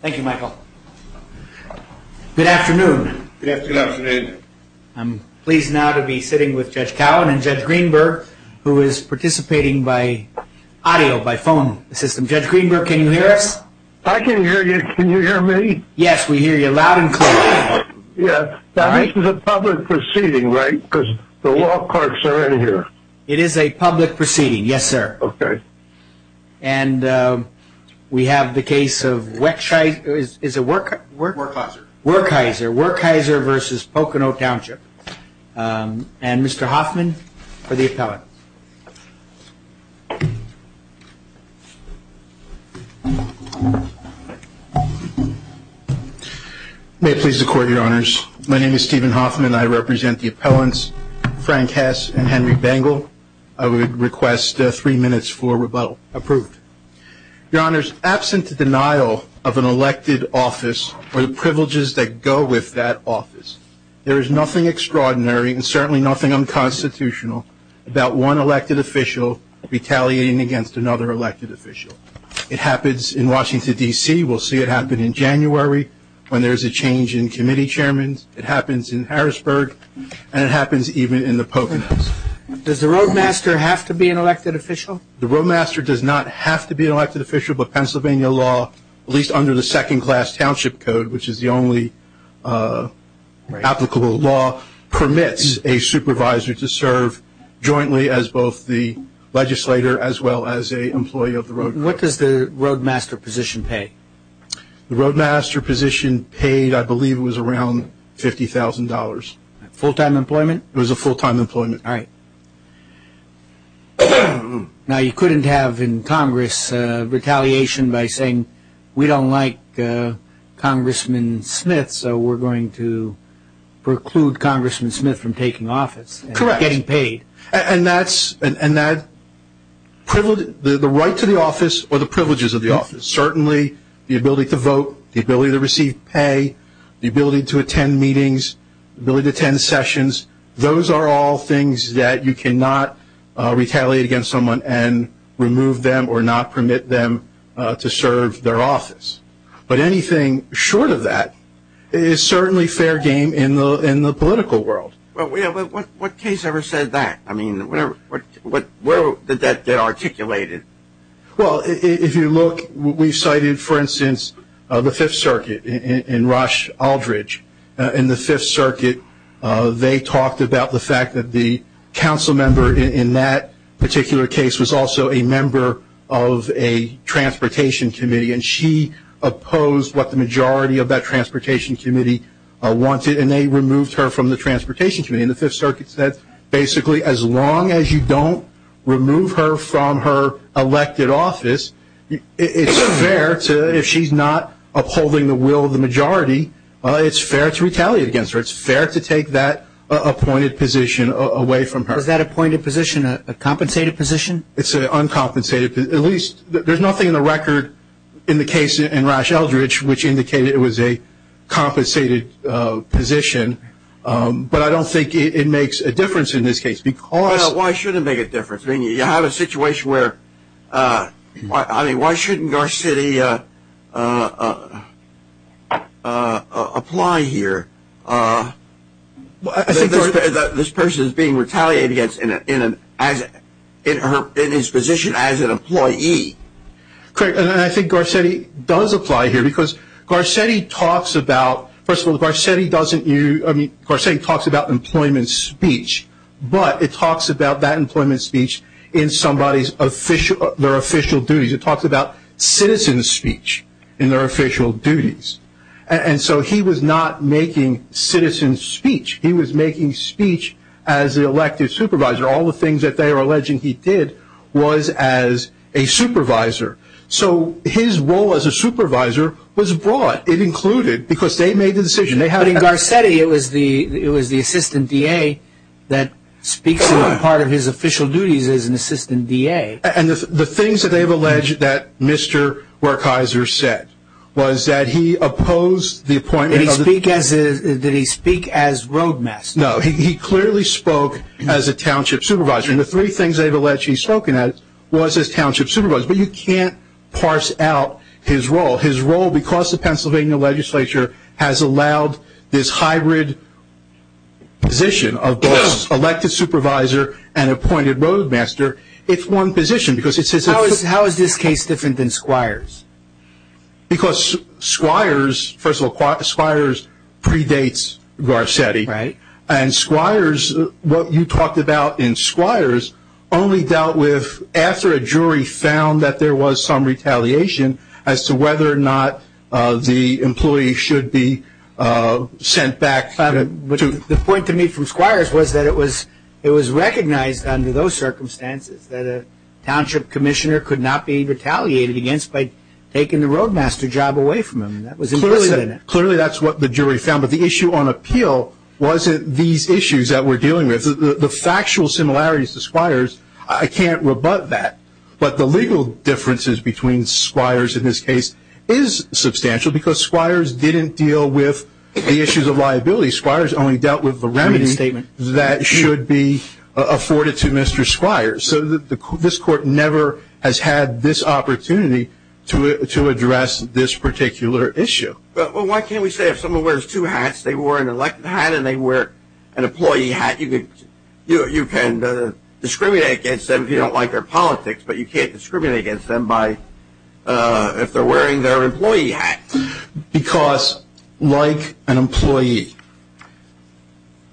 Thank you Michael. Good afternoon. Good afternoon. I'm pleased now to be sitting with Judge Cowan and Judge Greenberg who is participating by audio, by phone system. Judge Greenberg can you hear us? I can hear you. Can you hear me? Yes, we hear you loud and clear. Yeah, this is a public proceeding right? Because the law clerks are in here. It is a public case of Weksheiser v. Pocono Township and Mr. Hoffman for the appellant. May it please the court, your honors. My name is Stephen Hoffman. I represent the appellants Frank Hess and Henry Bangle. I would request three minutes for rebuttal. Approved. Your an elected office or the privileges that go with that office. There is nothing extraordinary and certainly nothing unconstitutional about one elected official retaliating against another elected official. It happens in Washington D.C. We'll see it happen in January when there is a change in committee chairmen. It happens in Harrisburg and it happens even in the Poconos. Does the roadmaster have to be an elected official? The roadmaster does not have to be an elected official but Pennsylvania law at least under the second class township code which is the only applicable law permits a supervisor to serve jointly as both the legislator as well as an employee of the road. What does the roadmaster position pay? The roadmaster position paid I believe was around $50,000. Full time employment? It was a full time employment. Now you couldn't have in Congress retaliation by saying we don't like Congressman Smith so we're going to preclude Congressman Smith from taking office and getting paid. And that's the right to the office or the privileges of the office. Certainly the ability to vote, the ability to receive pay, the ability to attend meetings, the ability to attend meetings that you cannot retaliate against someone and remove them or not permit them to serve their office. But anything short of that is certainly fair game in the political world. What case ever said that? I mean where did that get articulated? Well if you look we cited for instance the 5th Circuit in Rush Aldridge. In the 5th Circuit they talked about the fact that the council member in that particular case was also a member of a transportation committee and she opposed what the majority of that transportation committee wanted and they removed her from the transportation committee. And the 5th Circuit said basically as long as you don't remove her from her elected office, it's fair to if she's not upholding the will of the majority, it's fair to retaliate against her. It's fair to take that appointed position away from her. Is that appointed position a compensated position? It's an uncompensated position. At least there's nothing in the record in the case in Rush Aldridge which indicated it was a compensated position. But I don't think it makes a difference in this case because. Well why should it make a difference? I mean you have a situation where I mean why shouldn't Garcetti apply here? This person is being retaliated against in his position as an employee. Correct and I think Garcetti does apply here because Garcetti talks about first of all Garcetti talks about employment speech but it talks about that employment duties. It talks about citizen speech in their official duties. And so he was not making citizen speech. He was making speech as the elected supervisor. All the things that they are alleging he did was as a supervisor. So his role as a supervisor was brought. It included because they made the decision. But in Garcetti it was the assistant DA that speaks as part of his official duties as an assistant DA. And the things that they have alleged that Mr. Wertheiser said was that he opposed the appointment. Did he speak as roadmaster? No he clearly spoke as a township supervisor. And the three things they have alleged he spoke at was as township supervisor. But you can't parse out his role. His role because the Pennsylvania legislature has allowed this hybrid position of both elected supervisor and appointed roadmaster. It's one position. How is this case different than Squire's? Because Squire's first of all Squire's predates Garcetti. And Squire's what you talked about in Squire's only dealt with after a jury found that there was some retaliation as to whether or not the employee should be sent back. The point to me from Squire's was that it was recognized under those circumstances that a township commissioner could not be retaliated against by taking the roadmaster job away from him. That was implicit in it. Clearly that's what the jury found. But the issue on appeal wasn't these issues that we're dealing with. The factual similarities to Squire's I can't rebut that. But the legal differences between Squire's in this case is substantial because Squire's didn't deal with the issues of liability. Squire's only dealt with the remedy that should be afforded to Mr. Squire's. So this court never has had this opportunity to address this particular issue. But why can't we say if someone wears two hats they wear an elected hat and they wear an employee hat you can discriminate against them if you don't like their politics but you can't discriminate against them if they're wearing their employee hat. Because like an employee,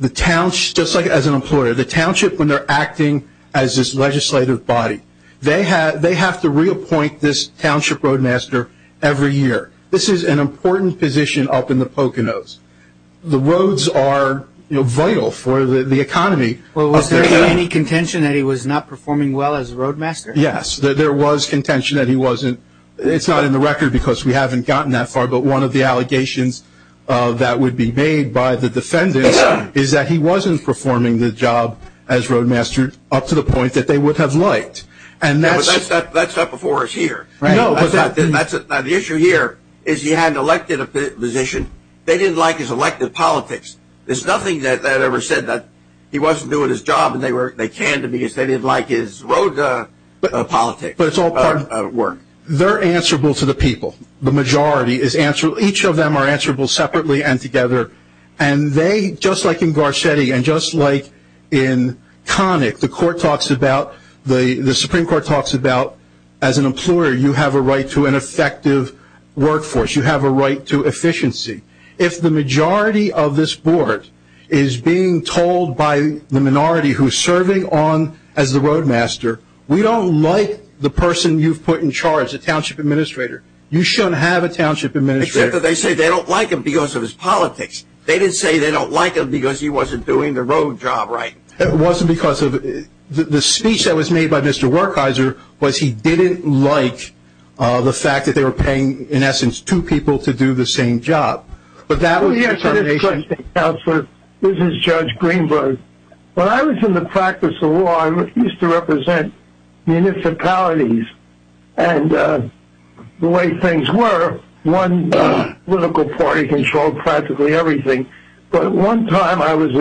just like as an employer, the township when they're acting as this legislative body, they have to reappoint this township roadmaster every year. This is an important position up in the Poconos. The roads are vital for the economy. Was there any contention that he was not performing well as a roadmaster? Yes, there was contention that he wasn't. It's not in the record because we haven't gotten that far but one of the allegations that would be made by the defendants is that he wasn't performing the job as roadmaster up to the point that they would have liked. That's not before us here. The issue here is he hadn't elected a position. They didn't like his elected politics. There's nothing that ever said that he wasn't doing his job and they can't because they didn't like his road politics. They're answerable to the people. The majority is answerable. Each of them are answerable separately and together and they, just like in Garcetti and just like in Connick, the Supreme Court talks about as an employer you have a right to an effective workforce. You have a right to efficiency. If the majority of this board is being told by the minority who's serving on as the roadmaster, we don't like the person you've put in charge, the Township Administrator. You shouldn't have a Township Administrator. Except that they say they don't like him because of his politics. They didn't say they don't like him because he wasn't doing the road job right. It wasn't because of the speech that was made by Mr. Wertheiser was he didn't like the fact that they were paying, in essence, two people to do the same job. But that was the determination. Yes, Mr. State Councilor, this is Judge Greenberg. When I was in the practice of law, I used to represent municipalities and the way things were, one political party controlled practically everything but one time I was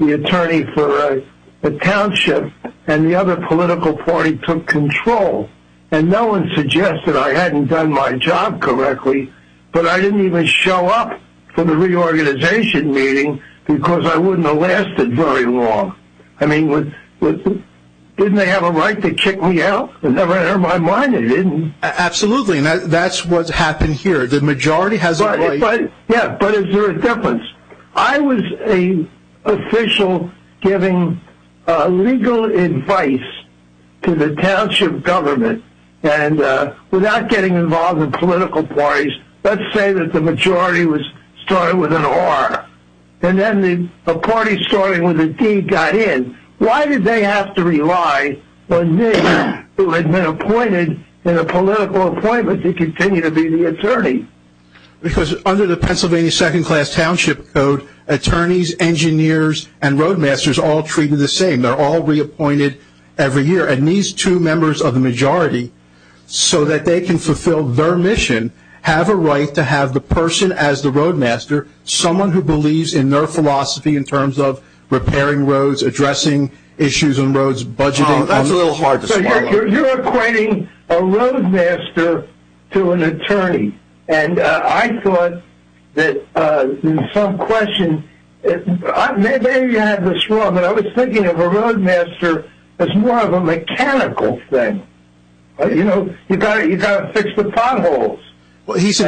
the attorney for a township and the other political party took control and no one suggested I hadn't done my job correctly but I didn't even show up for the reorganization meeting because I wouldn't have lasted very long. I mean, didn't they have a right to kick me out? It never entered my mind they didn't. Absolutely, and that's what's happened here. The majority has a right. Yeah, but is there a difference? I was an official giving legal advice to the township government and without getting involved in political parties, let's say that the majority started with an R and then a party starting with a D got in. Why did they have to rely on me who had been appointed in a political appointment to continue to be the attorney? Because under the Pennsylvania Second Class Township Code, attorneys, engineers, and road masters all treated the same. They're all reappointed every year and these two members of the majority, so that they can fulfill their mission, have a right to have the person as the road master, someone who believes in their philosophy in terms of repairing roads, addressing issues on roads, budgeting... Oh, that's a little hard to swallow. So you're equating a road master to an attorney and I thought that in some question, maybe you had this wrong, but I was thinking of a road master as more of a mechanical thing. You know, you've got to fix the potholes. It's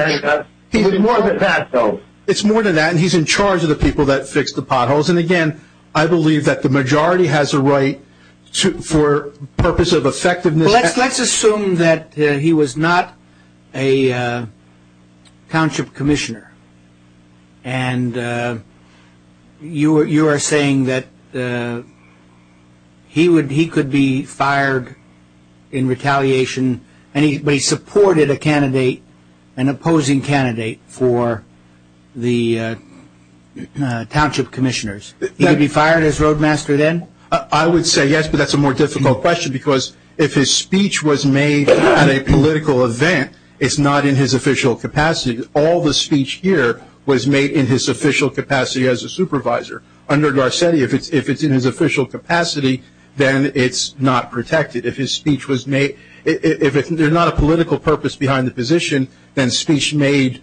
more than that though. It's more than that and he's in charge of the people that fix the potholes and again, I believe that the majority has a right for purpose of effectiveness... And you are saying that he could be fired in retaliation, but he supported a candidate, an opposing candidate for the township commissioners. He could be fired as road master then? I would say yes, but that's a more difficult question because if his speech was made at a political event, it's not in his official capacity. All the speech here was made in his official capacity as a supervisor. Under Garcetti, if it's in his official capacity, then it's not protected. If his speech was made... If there's not a political purpose behind the position, then speech made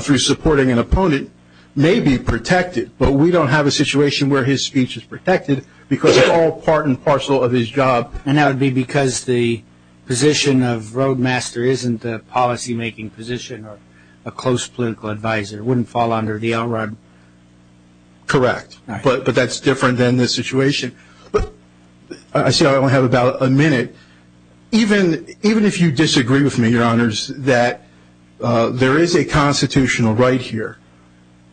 through supporting an opponent may be protected, but we don't have a situation where his speech is protected because it's all part and parcel of his job. And that would be because the position of road master isn't a policy making position or a close political advisor. It wouldn't fall under the LRUD? Correct, but that's different than this situation. I see I only have about a minute. Even if you disagree with me, your honors, that there is a constitutional right here.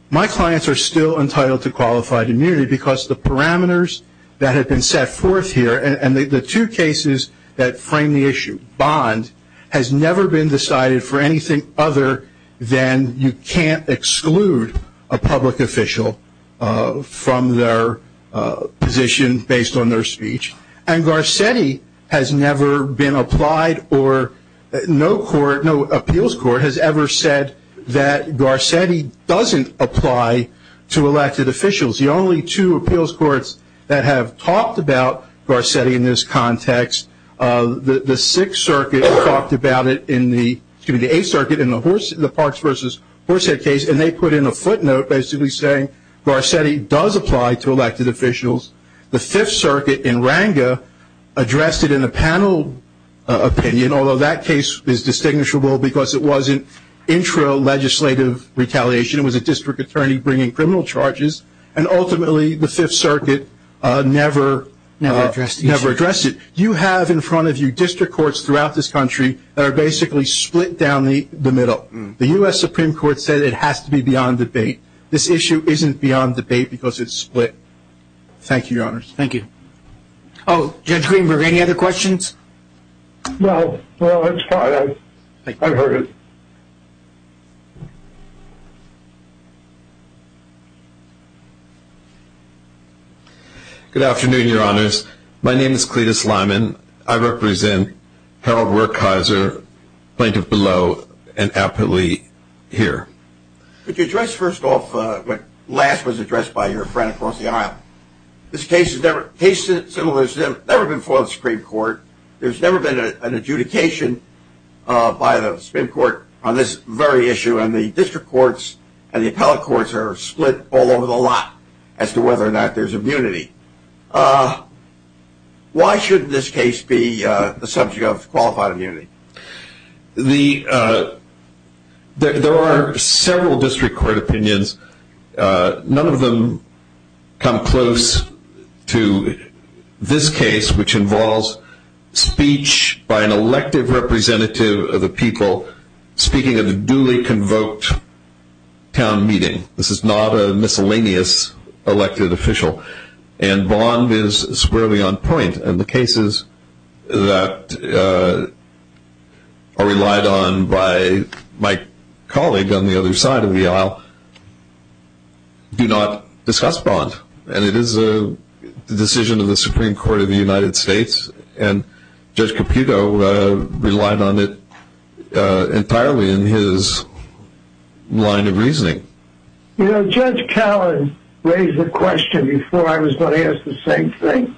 My clients are still entitled to qualified immunity because the parameters that have two cases that frame the issue, bond, has never been decided for anything other than you can't exclude a public official from their position based on their speech. And Garcetti has never been applied or no appeals court has ever said that Garcetti doesn't apply to elected officials. The only two appeals courts that have talked about it in this context, the Sixth Circuit talked about it in the, excuse me, the Eighth Circuit in the Parks v. Horsehead case, and they put in a footnote basically saying Garcetti does apply to elected officials. The Fifth Circuit in Ranga addressed it in a panel opinion, although that case is distinguishable because it wasn't intra-legislative retaliation. It was a district attorney bringing criminal charges, and ultimately the Fifth Circuit never addressed it. You have in front of you district courts throughout this country that are basically split down the middle. The U.S. Supreme Court said it has to be beyond debate. This issue isn't beyond debate because it's split. Thank you, your honors. Thank you. Oh, Judge Greenberg, any other questions? No. No, it's fine. I heard it. Good afternoon, your honors. My name is Cletus Lyman. I represent Harold Wertheiser, plaintiff below, and appellee here. Could you address first off what last was addressed by your friend across the aisle? This case has never been filed in the Supreme Court. There's never been an adjudication by the Supreme Court on this very issue, and the district courts and the appellate courts are split all over the lot as to whether or not there's immunity. Why should this case be the subject of qualified immunity? There are several district court opinions. None of them come close to this case, which involves speech by an elected representative of the people speaking at a duly convoked town meeting. This is not a miscellaneous elected official, and Bond is squarely on point. And the cases that are relied on by my colleague on the other side of the aisle do not discuss Bond. And it is the decision of the Supreme Court of the United States, and Judge Caputo relied on it entirely in his line of reasoning. You know, Judge Callan raised the question before I was going to ask the same thing.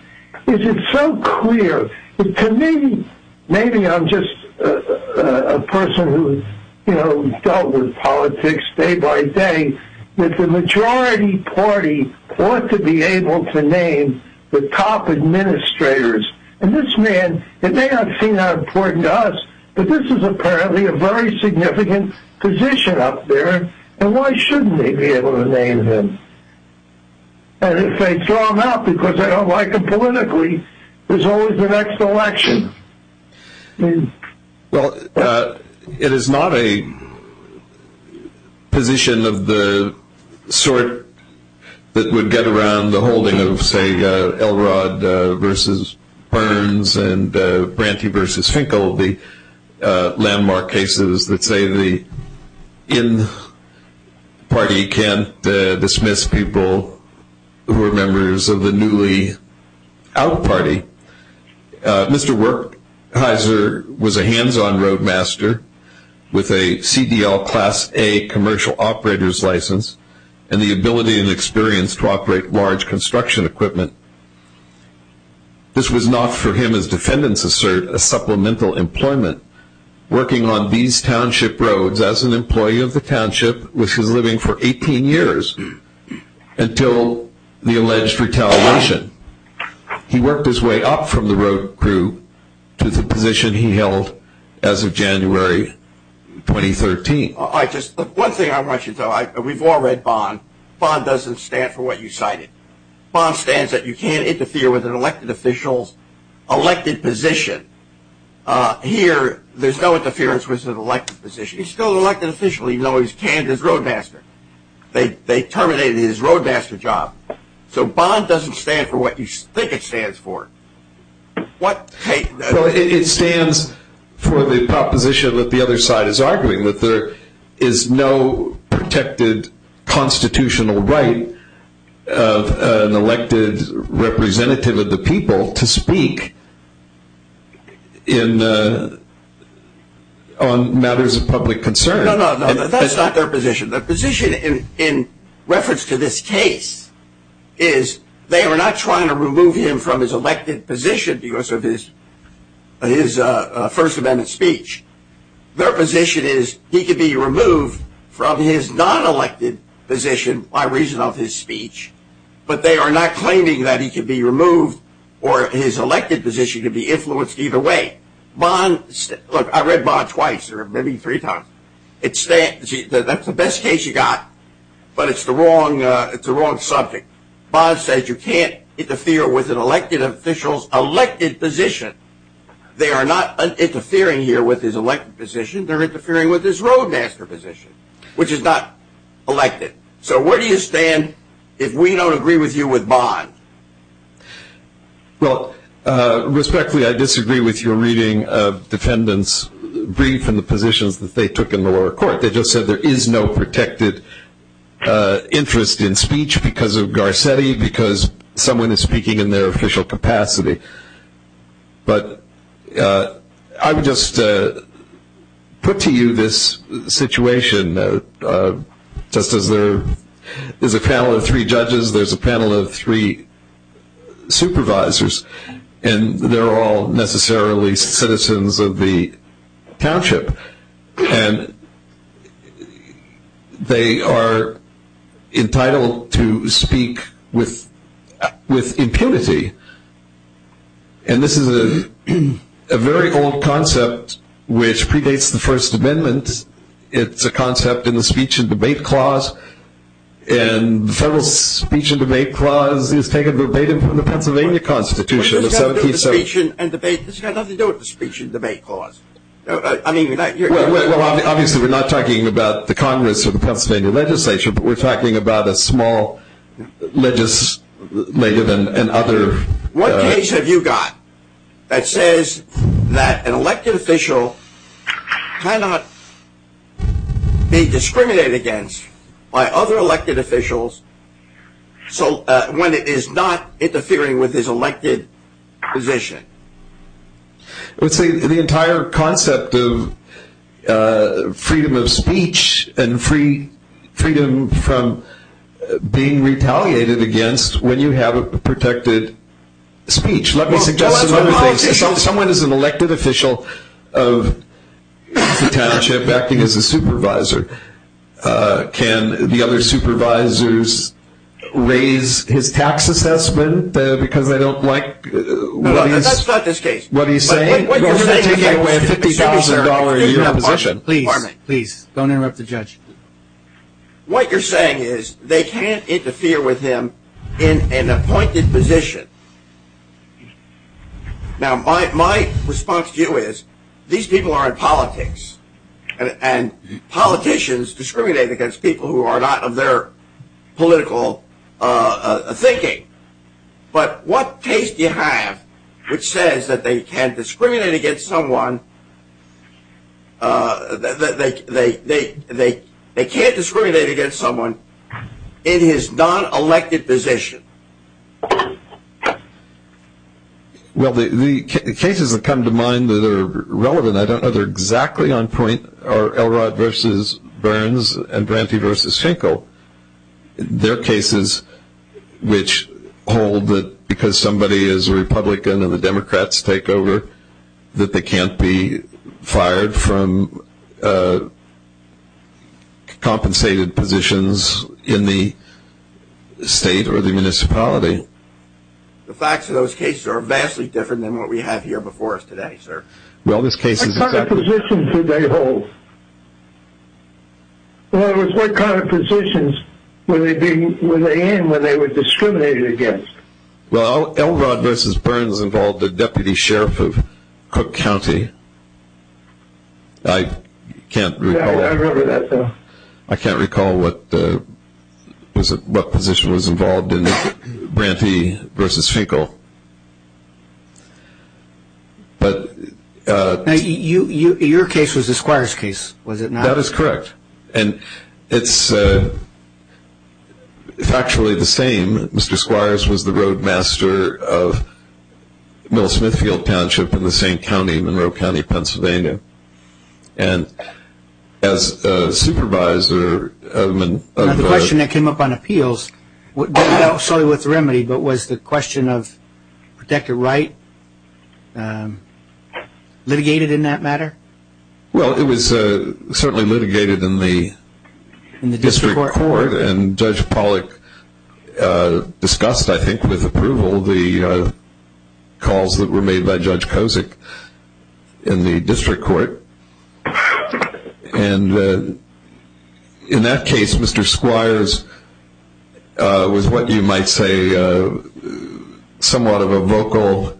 Is it so clear that to me, maybe I'm just a person who dealt with politics day by day, that the majority party ought to be able to name the top administrators. And this man, it may not seem that important to us, but this is apparently a very significant position up there, and why shouldn't they be able to name him? And if they throw him out because they don't like him politically, there's always the next election. Well, it is not a position of the sort that would get around the holding of, say, a party can't dismiss people who are members of the newly out party. Mr. Werkheiser was a hands-on roadmaster with a CDL Class A commercial operator's license and the ability and experience to operate large construction equipment. This was not for him, as defendants assert, a supplemental employment. Working on these township roads as an employee of the township, which was living for 18 years until the alleged retaliation, he worked his way up from the road crew to the position he held as of January 2013. One thing I want you to know, we've all read Bond. Bond doesn't stand for what you cited. Bond stands that you can't interfere with an elected official's elected position. Here, there's no interference with an elected position. He's still an elected official even though he's canned as roadmaster. They terminated his roadmaster job. So Bond doesn't stand for what you think it stands for. It stands for the proposition that the other side is arguing, that there is no protected constitutional right of an elected representative of the people to speak on matters of public concern. No, no, that's not their position. Their position in reference to this case is they are not trying to remove him from his elected position because of his First Amendment speech. Their position is he can be removed from his non-elected position by reason of his speech, but they are not claiming that he can be removed or his elected position to be influenced either way. Look, I read Bond twice or maybe three times. That's the best case you got, but it's the wrong subject. Bond says you can't interfere with an elected official's elected position. They are not interfering here with his elected position. They're interfering with his roadmaster position, which is not elected. So where do you stand if we don't agree with you with Bond? Well, respectfully, I disagree with your reading of defendants' brief and the positions that they took in the lower court. They just said there is no protected interest in speech because of Garcetti, because someone is speaking in their official capacity. But I would just put to you this situation, just as there is a panel of three judges, there's a panel of three supervisors, and they're all necessarily citizens of the township. And they are entitled to speak with impunity. And this is a very old concept which predates the First Amendment. It's a concept in the Speech and Debate Clause, and the federal Speech and Debate Clause is taken verbatim from the Pennsylvania Constitution. This has nothing to do with the Speech and Debate Clause. Obviously, we're not talking about the Congress or the Pennsylvania legislation, but we're talking about a small legislative and other... What case have you got that says that an elected official cannot be discriminated against by other elected officials when it is not interfering with his elected position? It's the entire concept of freedom of speech and freedom from being retaliated against when you have a protected speech. Let me suggest another thing. Someone is an elected official of the township acting as a supervisor. Can the other supervisors raise his tax assessment because they don't like what he's saying? We're going to take away a $50,000 a year position. Please, please, don't interrupt the judge. What you're saying is they can't interfere with him in an appointed position. Now, my response to you is these people are in politics, and politicians discriminate against people who are not of their political thinking, but what case do you have which says that they can't discriminate against someone that they can't discriminate against someone in his non-elected position? Well, the cases that come to mind that are relevant, I don't know if they're exactly on point, are Elrod v. Burns and Branty v. Schenkel. They're cases which hold that because somebody is a Republican and the Democrats take over that they can't be fired from compensated positions in the state or the municipality. The facts of those cases are vastly different than what we have here before us today, sir. What kind of positions did they hold? In other words, what kind of positions were they in when they were discriminated against? Well, Elrod v. Burns involved a deputy sheriff of Cook County. I can't recall what position was involved in Branty v. Schenkel. Your case was the Squires case, was it not? That is correct. And it's factually the same. Mr. Squires was the roadmaster of Mill Smithfield Township in the same county, Monroe County, Pennsylvania. And as a supervisor... Now the question that came up on appeals, not necessarily with the remedy but was the question of protected right litigated in that matter? Well, it was certainly litigated in the district court. And Judge Pollack discussed, I think with approval, the calls that were made by Judge Kozik in the district court. And in that case, Mr. Squires was what you might say somewhat of a vocal,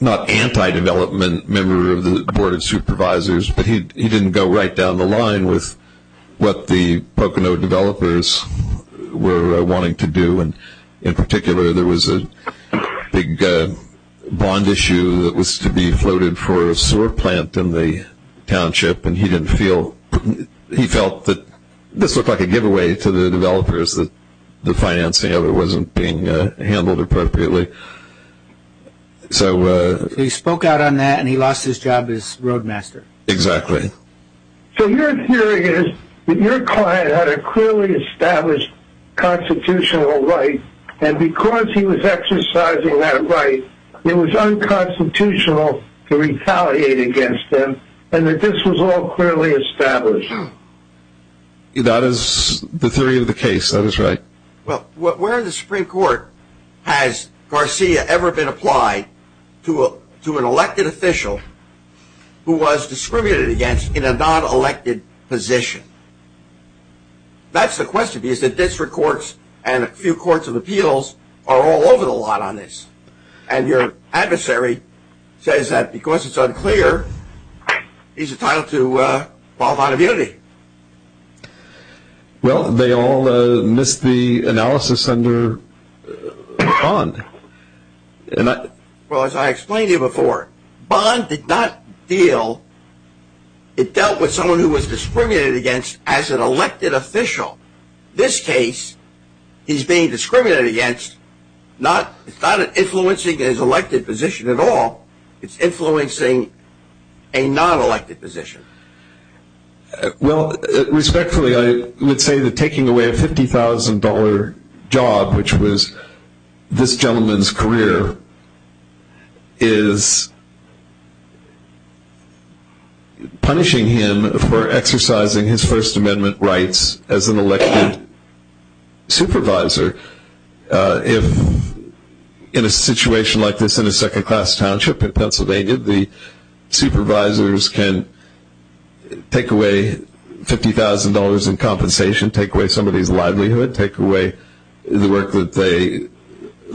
not anti-development member of the Board of Supervisors, but he didn't go right down the line with what the Pocono developers were wanting to do. And in particular, there was a big bond issue that was to be floated for a sewer plant in the township. And he didn't feel... He felt that this looked like a giveaway to the developers that the financing of it wasn't being handled appropriately. So he spoke out on that and he lost his job as roadmaster. Exactly. So your theory is that your client had a clearly established constitutional right and because he was exercising that right, it was unconstitutional to retaliate against him and that this was all clearly established. That is the theory of the case. That is right. Well, where in the Supreme Court has Garcia ever been applied to an elected official who was discriminated against in a non-elected position? That's the question. Because the district courts and a few courts of appeals are all over the lot on this. And your adversary says that because it's unclear, he's entitled to bond immunity. Well, they all missed the analysis under bond. Well, as I explained to you before, bond did not deal. It dealt with someone who was discriminated against as an elected official. This case, he's being discriminated against. It's not influencing his elected position at all. It's influencing a non-elected position. Well, respectfully, I would say that taking away a $50,000 job, which was this gentleman's career, is punishing him for exercising his First Amendment rights as an elected supervisor. In a situation like this in a second-class township in Pennsylvania, the supervisors can take away $50,000 in compensation, take away somebody's livelihood, take away the work that they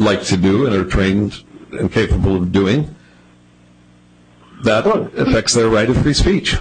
like to do and are trained and capable of doing. That affects their right of free speech.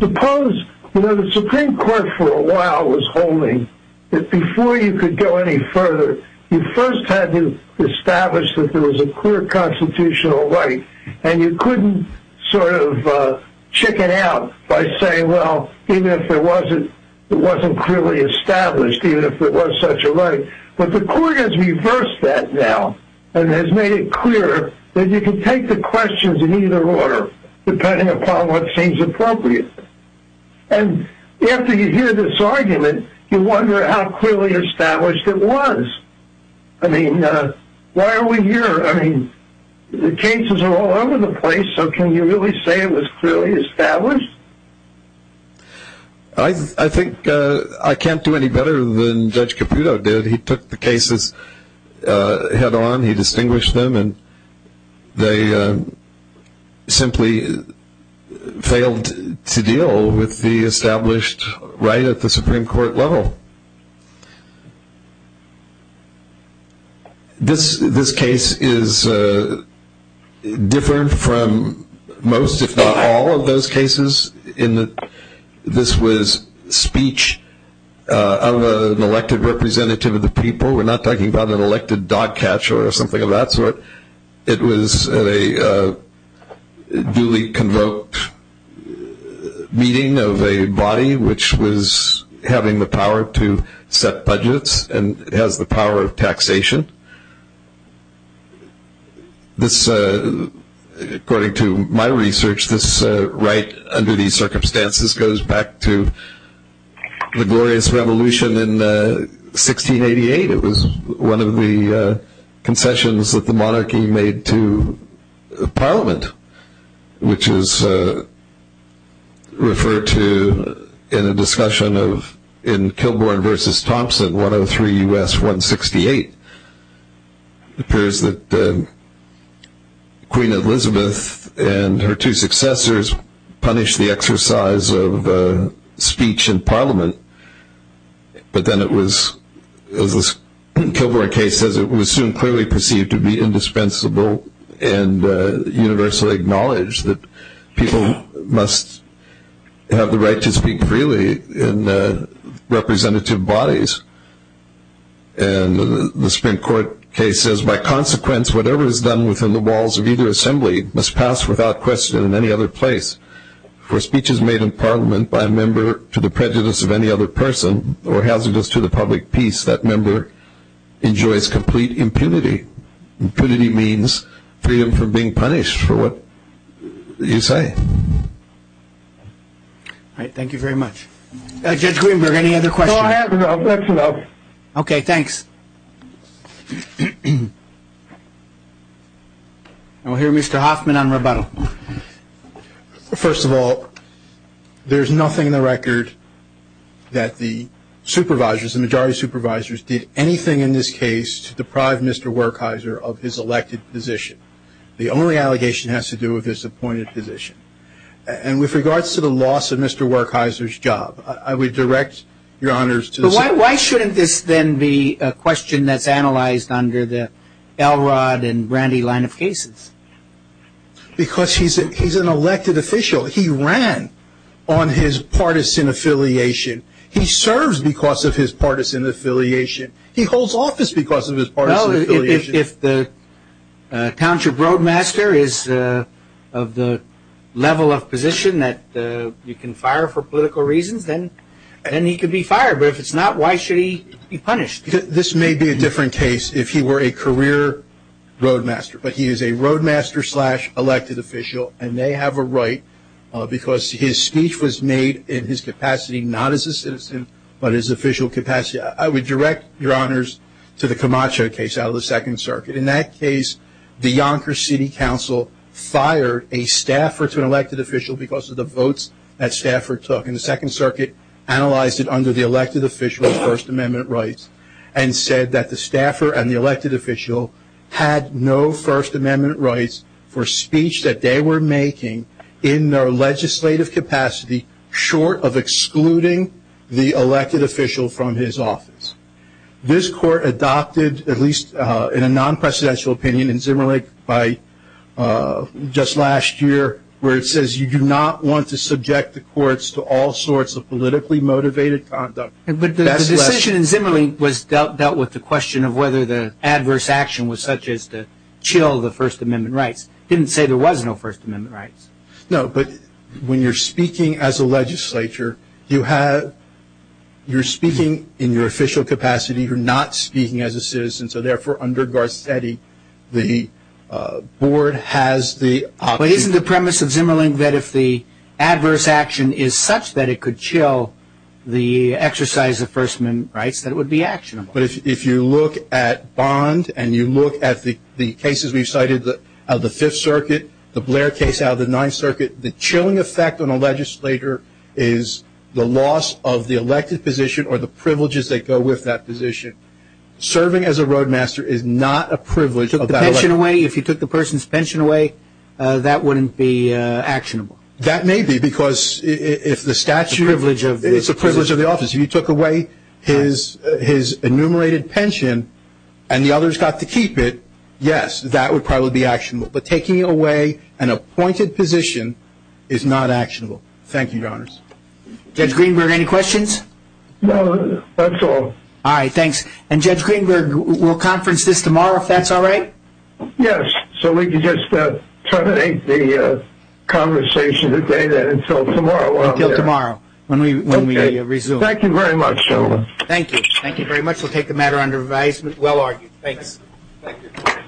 Suppose the Supreme Court for a while was holding that before you could go any further, you first had to establish that there was a clear constitutional right, and you couldn't sort of check it out by saying, well, even if it wasn't clearly established, even if it was such a right. But the court has reversed that now and has made it clear that you can take the questions in either order, depending upon what seems appropriate. And after you hear this argument, you wonder how clearly established it was. I mean, why are we here? I mean, the cases are all over the place, so can you really say it was clearly established? I think I can't do any better than Judge Caputo did. He took the cases head-on, he distinguished them, and they simply failed to deal with the established right at the Supreme Court level. This case is different from most, if not all, of those cases. This was speech of an elected representative of the people. We're not talking about an elected dog catcher or something of that sort. It was a duly convoked meeting of a body which was having the power to set budgets and has the power of taxation. According to my research, this right under these circumstances goes back to the Glorious Revolution in 1688. It was one of the concessions that the monarchy made to Parliament, which is referred to in a discussion in Kilbourne v. Thompson, 103 U.S. 168. It appears that Queen Elizabeth and her two successors punished the exercise of speech in Parliament, but then it was, as the Kilbourne case says, it was soon clearly perceived to be indispensable and universally acknowledged that people must have the right to speak freely in representative bodies. The Supreme Court case says, By consequence, whatever is done within the walls of either assembly must pass without question in any other place. For speeches made in Parliament by a member to the prejudice of any other person or hazardous to the public peace, that member enjoys complete impunity. Impunity means freedom from being punished for what you say. All right, thank you very much. Judge Greenberg, any other questions? No, that's enough. Okay, thanks. We'll hear Mr. Hoffman on rebuttal. First of all, there's nothing in the record that the supervisors, the majority supervisors, did anything in this case to deprive Mr. Werkheiser of his elected position. The only allegation has to do with his appointed position. And with regards to the loss of Mr. Werkheiser's job, I would direct your honors to the Supreme Court. Why shouldn't this then be a question that's analyzed under the Elrod and Brandy line of cases? Because he's an elected official. He ran on his partisan affiliation. He serves because of his partisan affiliation. He holds office because of his partisan affiliation. Well, if the township roadmaster is of the level of position that you can fire for political reasons, then he could be fired. But if it's not, why should he be punished? This may be a different case if he were a career roadmaster. But he is a roadmaster-slash-elected official, and they have a right because his speech was made in his capacity not as a citizen, but his official capacity. I would direct your honors to the Camacho case out of the Second Circuit. In that case, the Yonker City Council fired a staffer to an elected official because of the votes that staffer took. And the Second Circuit analyzed it under the elected official's First Amendment rights and said that the staffer and the elected official had no First Amendment rights for speech that they were making in their legislative capacity short of excluding the elected official from his office. This court adopted, at least in a non-presidential opinion in Zimmerlich by just last year, where it says you do not want to subject the courts to all sorts of politically motivated conduct. But the decision in Zimmerlich dealt with the question of whether the adverse action was such as to chill the First Amendment rights. It didn't say there was no First Amendment rights. No, but when you're speaking as a legislature, you're speaking in your official capacity. You're not speaking as a citizen. So therefore, under Garcetti, the board has the option. But isn't the premise of Zimmerlich that if the adverse action is such that it could chill the exercise of First Amendment rights, that it would be actionable? But if you look at Bond and you look at the cases we've cited of the Fifth Circuit, the Blair case out of the Ninth Circuit, the chilling effect on a legislator is the loss of the elected position or the privileges that go with that position. Serving as a roadmaster is not a privilege of that election. If you took the person's pension away, that wouldn't be actionable. That may be, because if the statute is a privilege of the office. If you took away his enumerated pension and the others got to keep it, yes, that would probably be actionable. But taking away an appointed position is not actionable. Thank you, Your Honors. Judge Greenberg, any questions? No, that's all. All right, thanks. And, Judge Greenberg, we'll conference this tomorrow if that's all right? Yes, so we can just terminate the conversation today, then until tomorrow. Until tomorrow, when we resume. Thank you very much, gentlemen. Thank you. Thank you very much. We'll take the matter under revision. Well argued. Thanks. Thank you. Thank you. Thank you. Thank you. Thank you.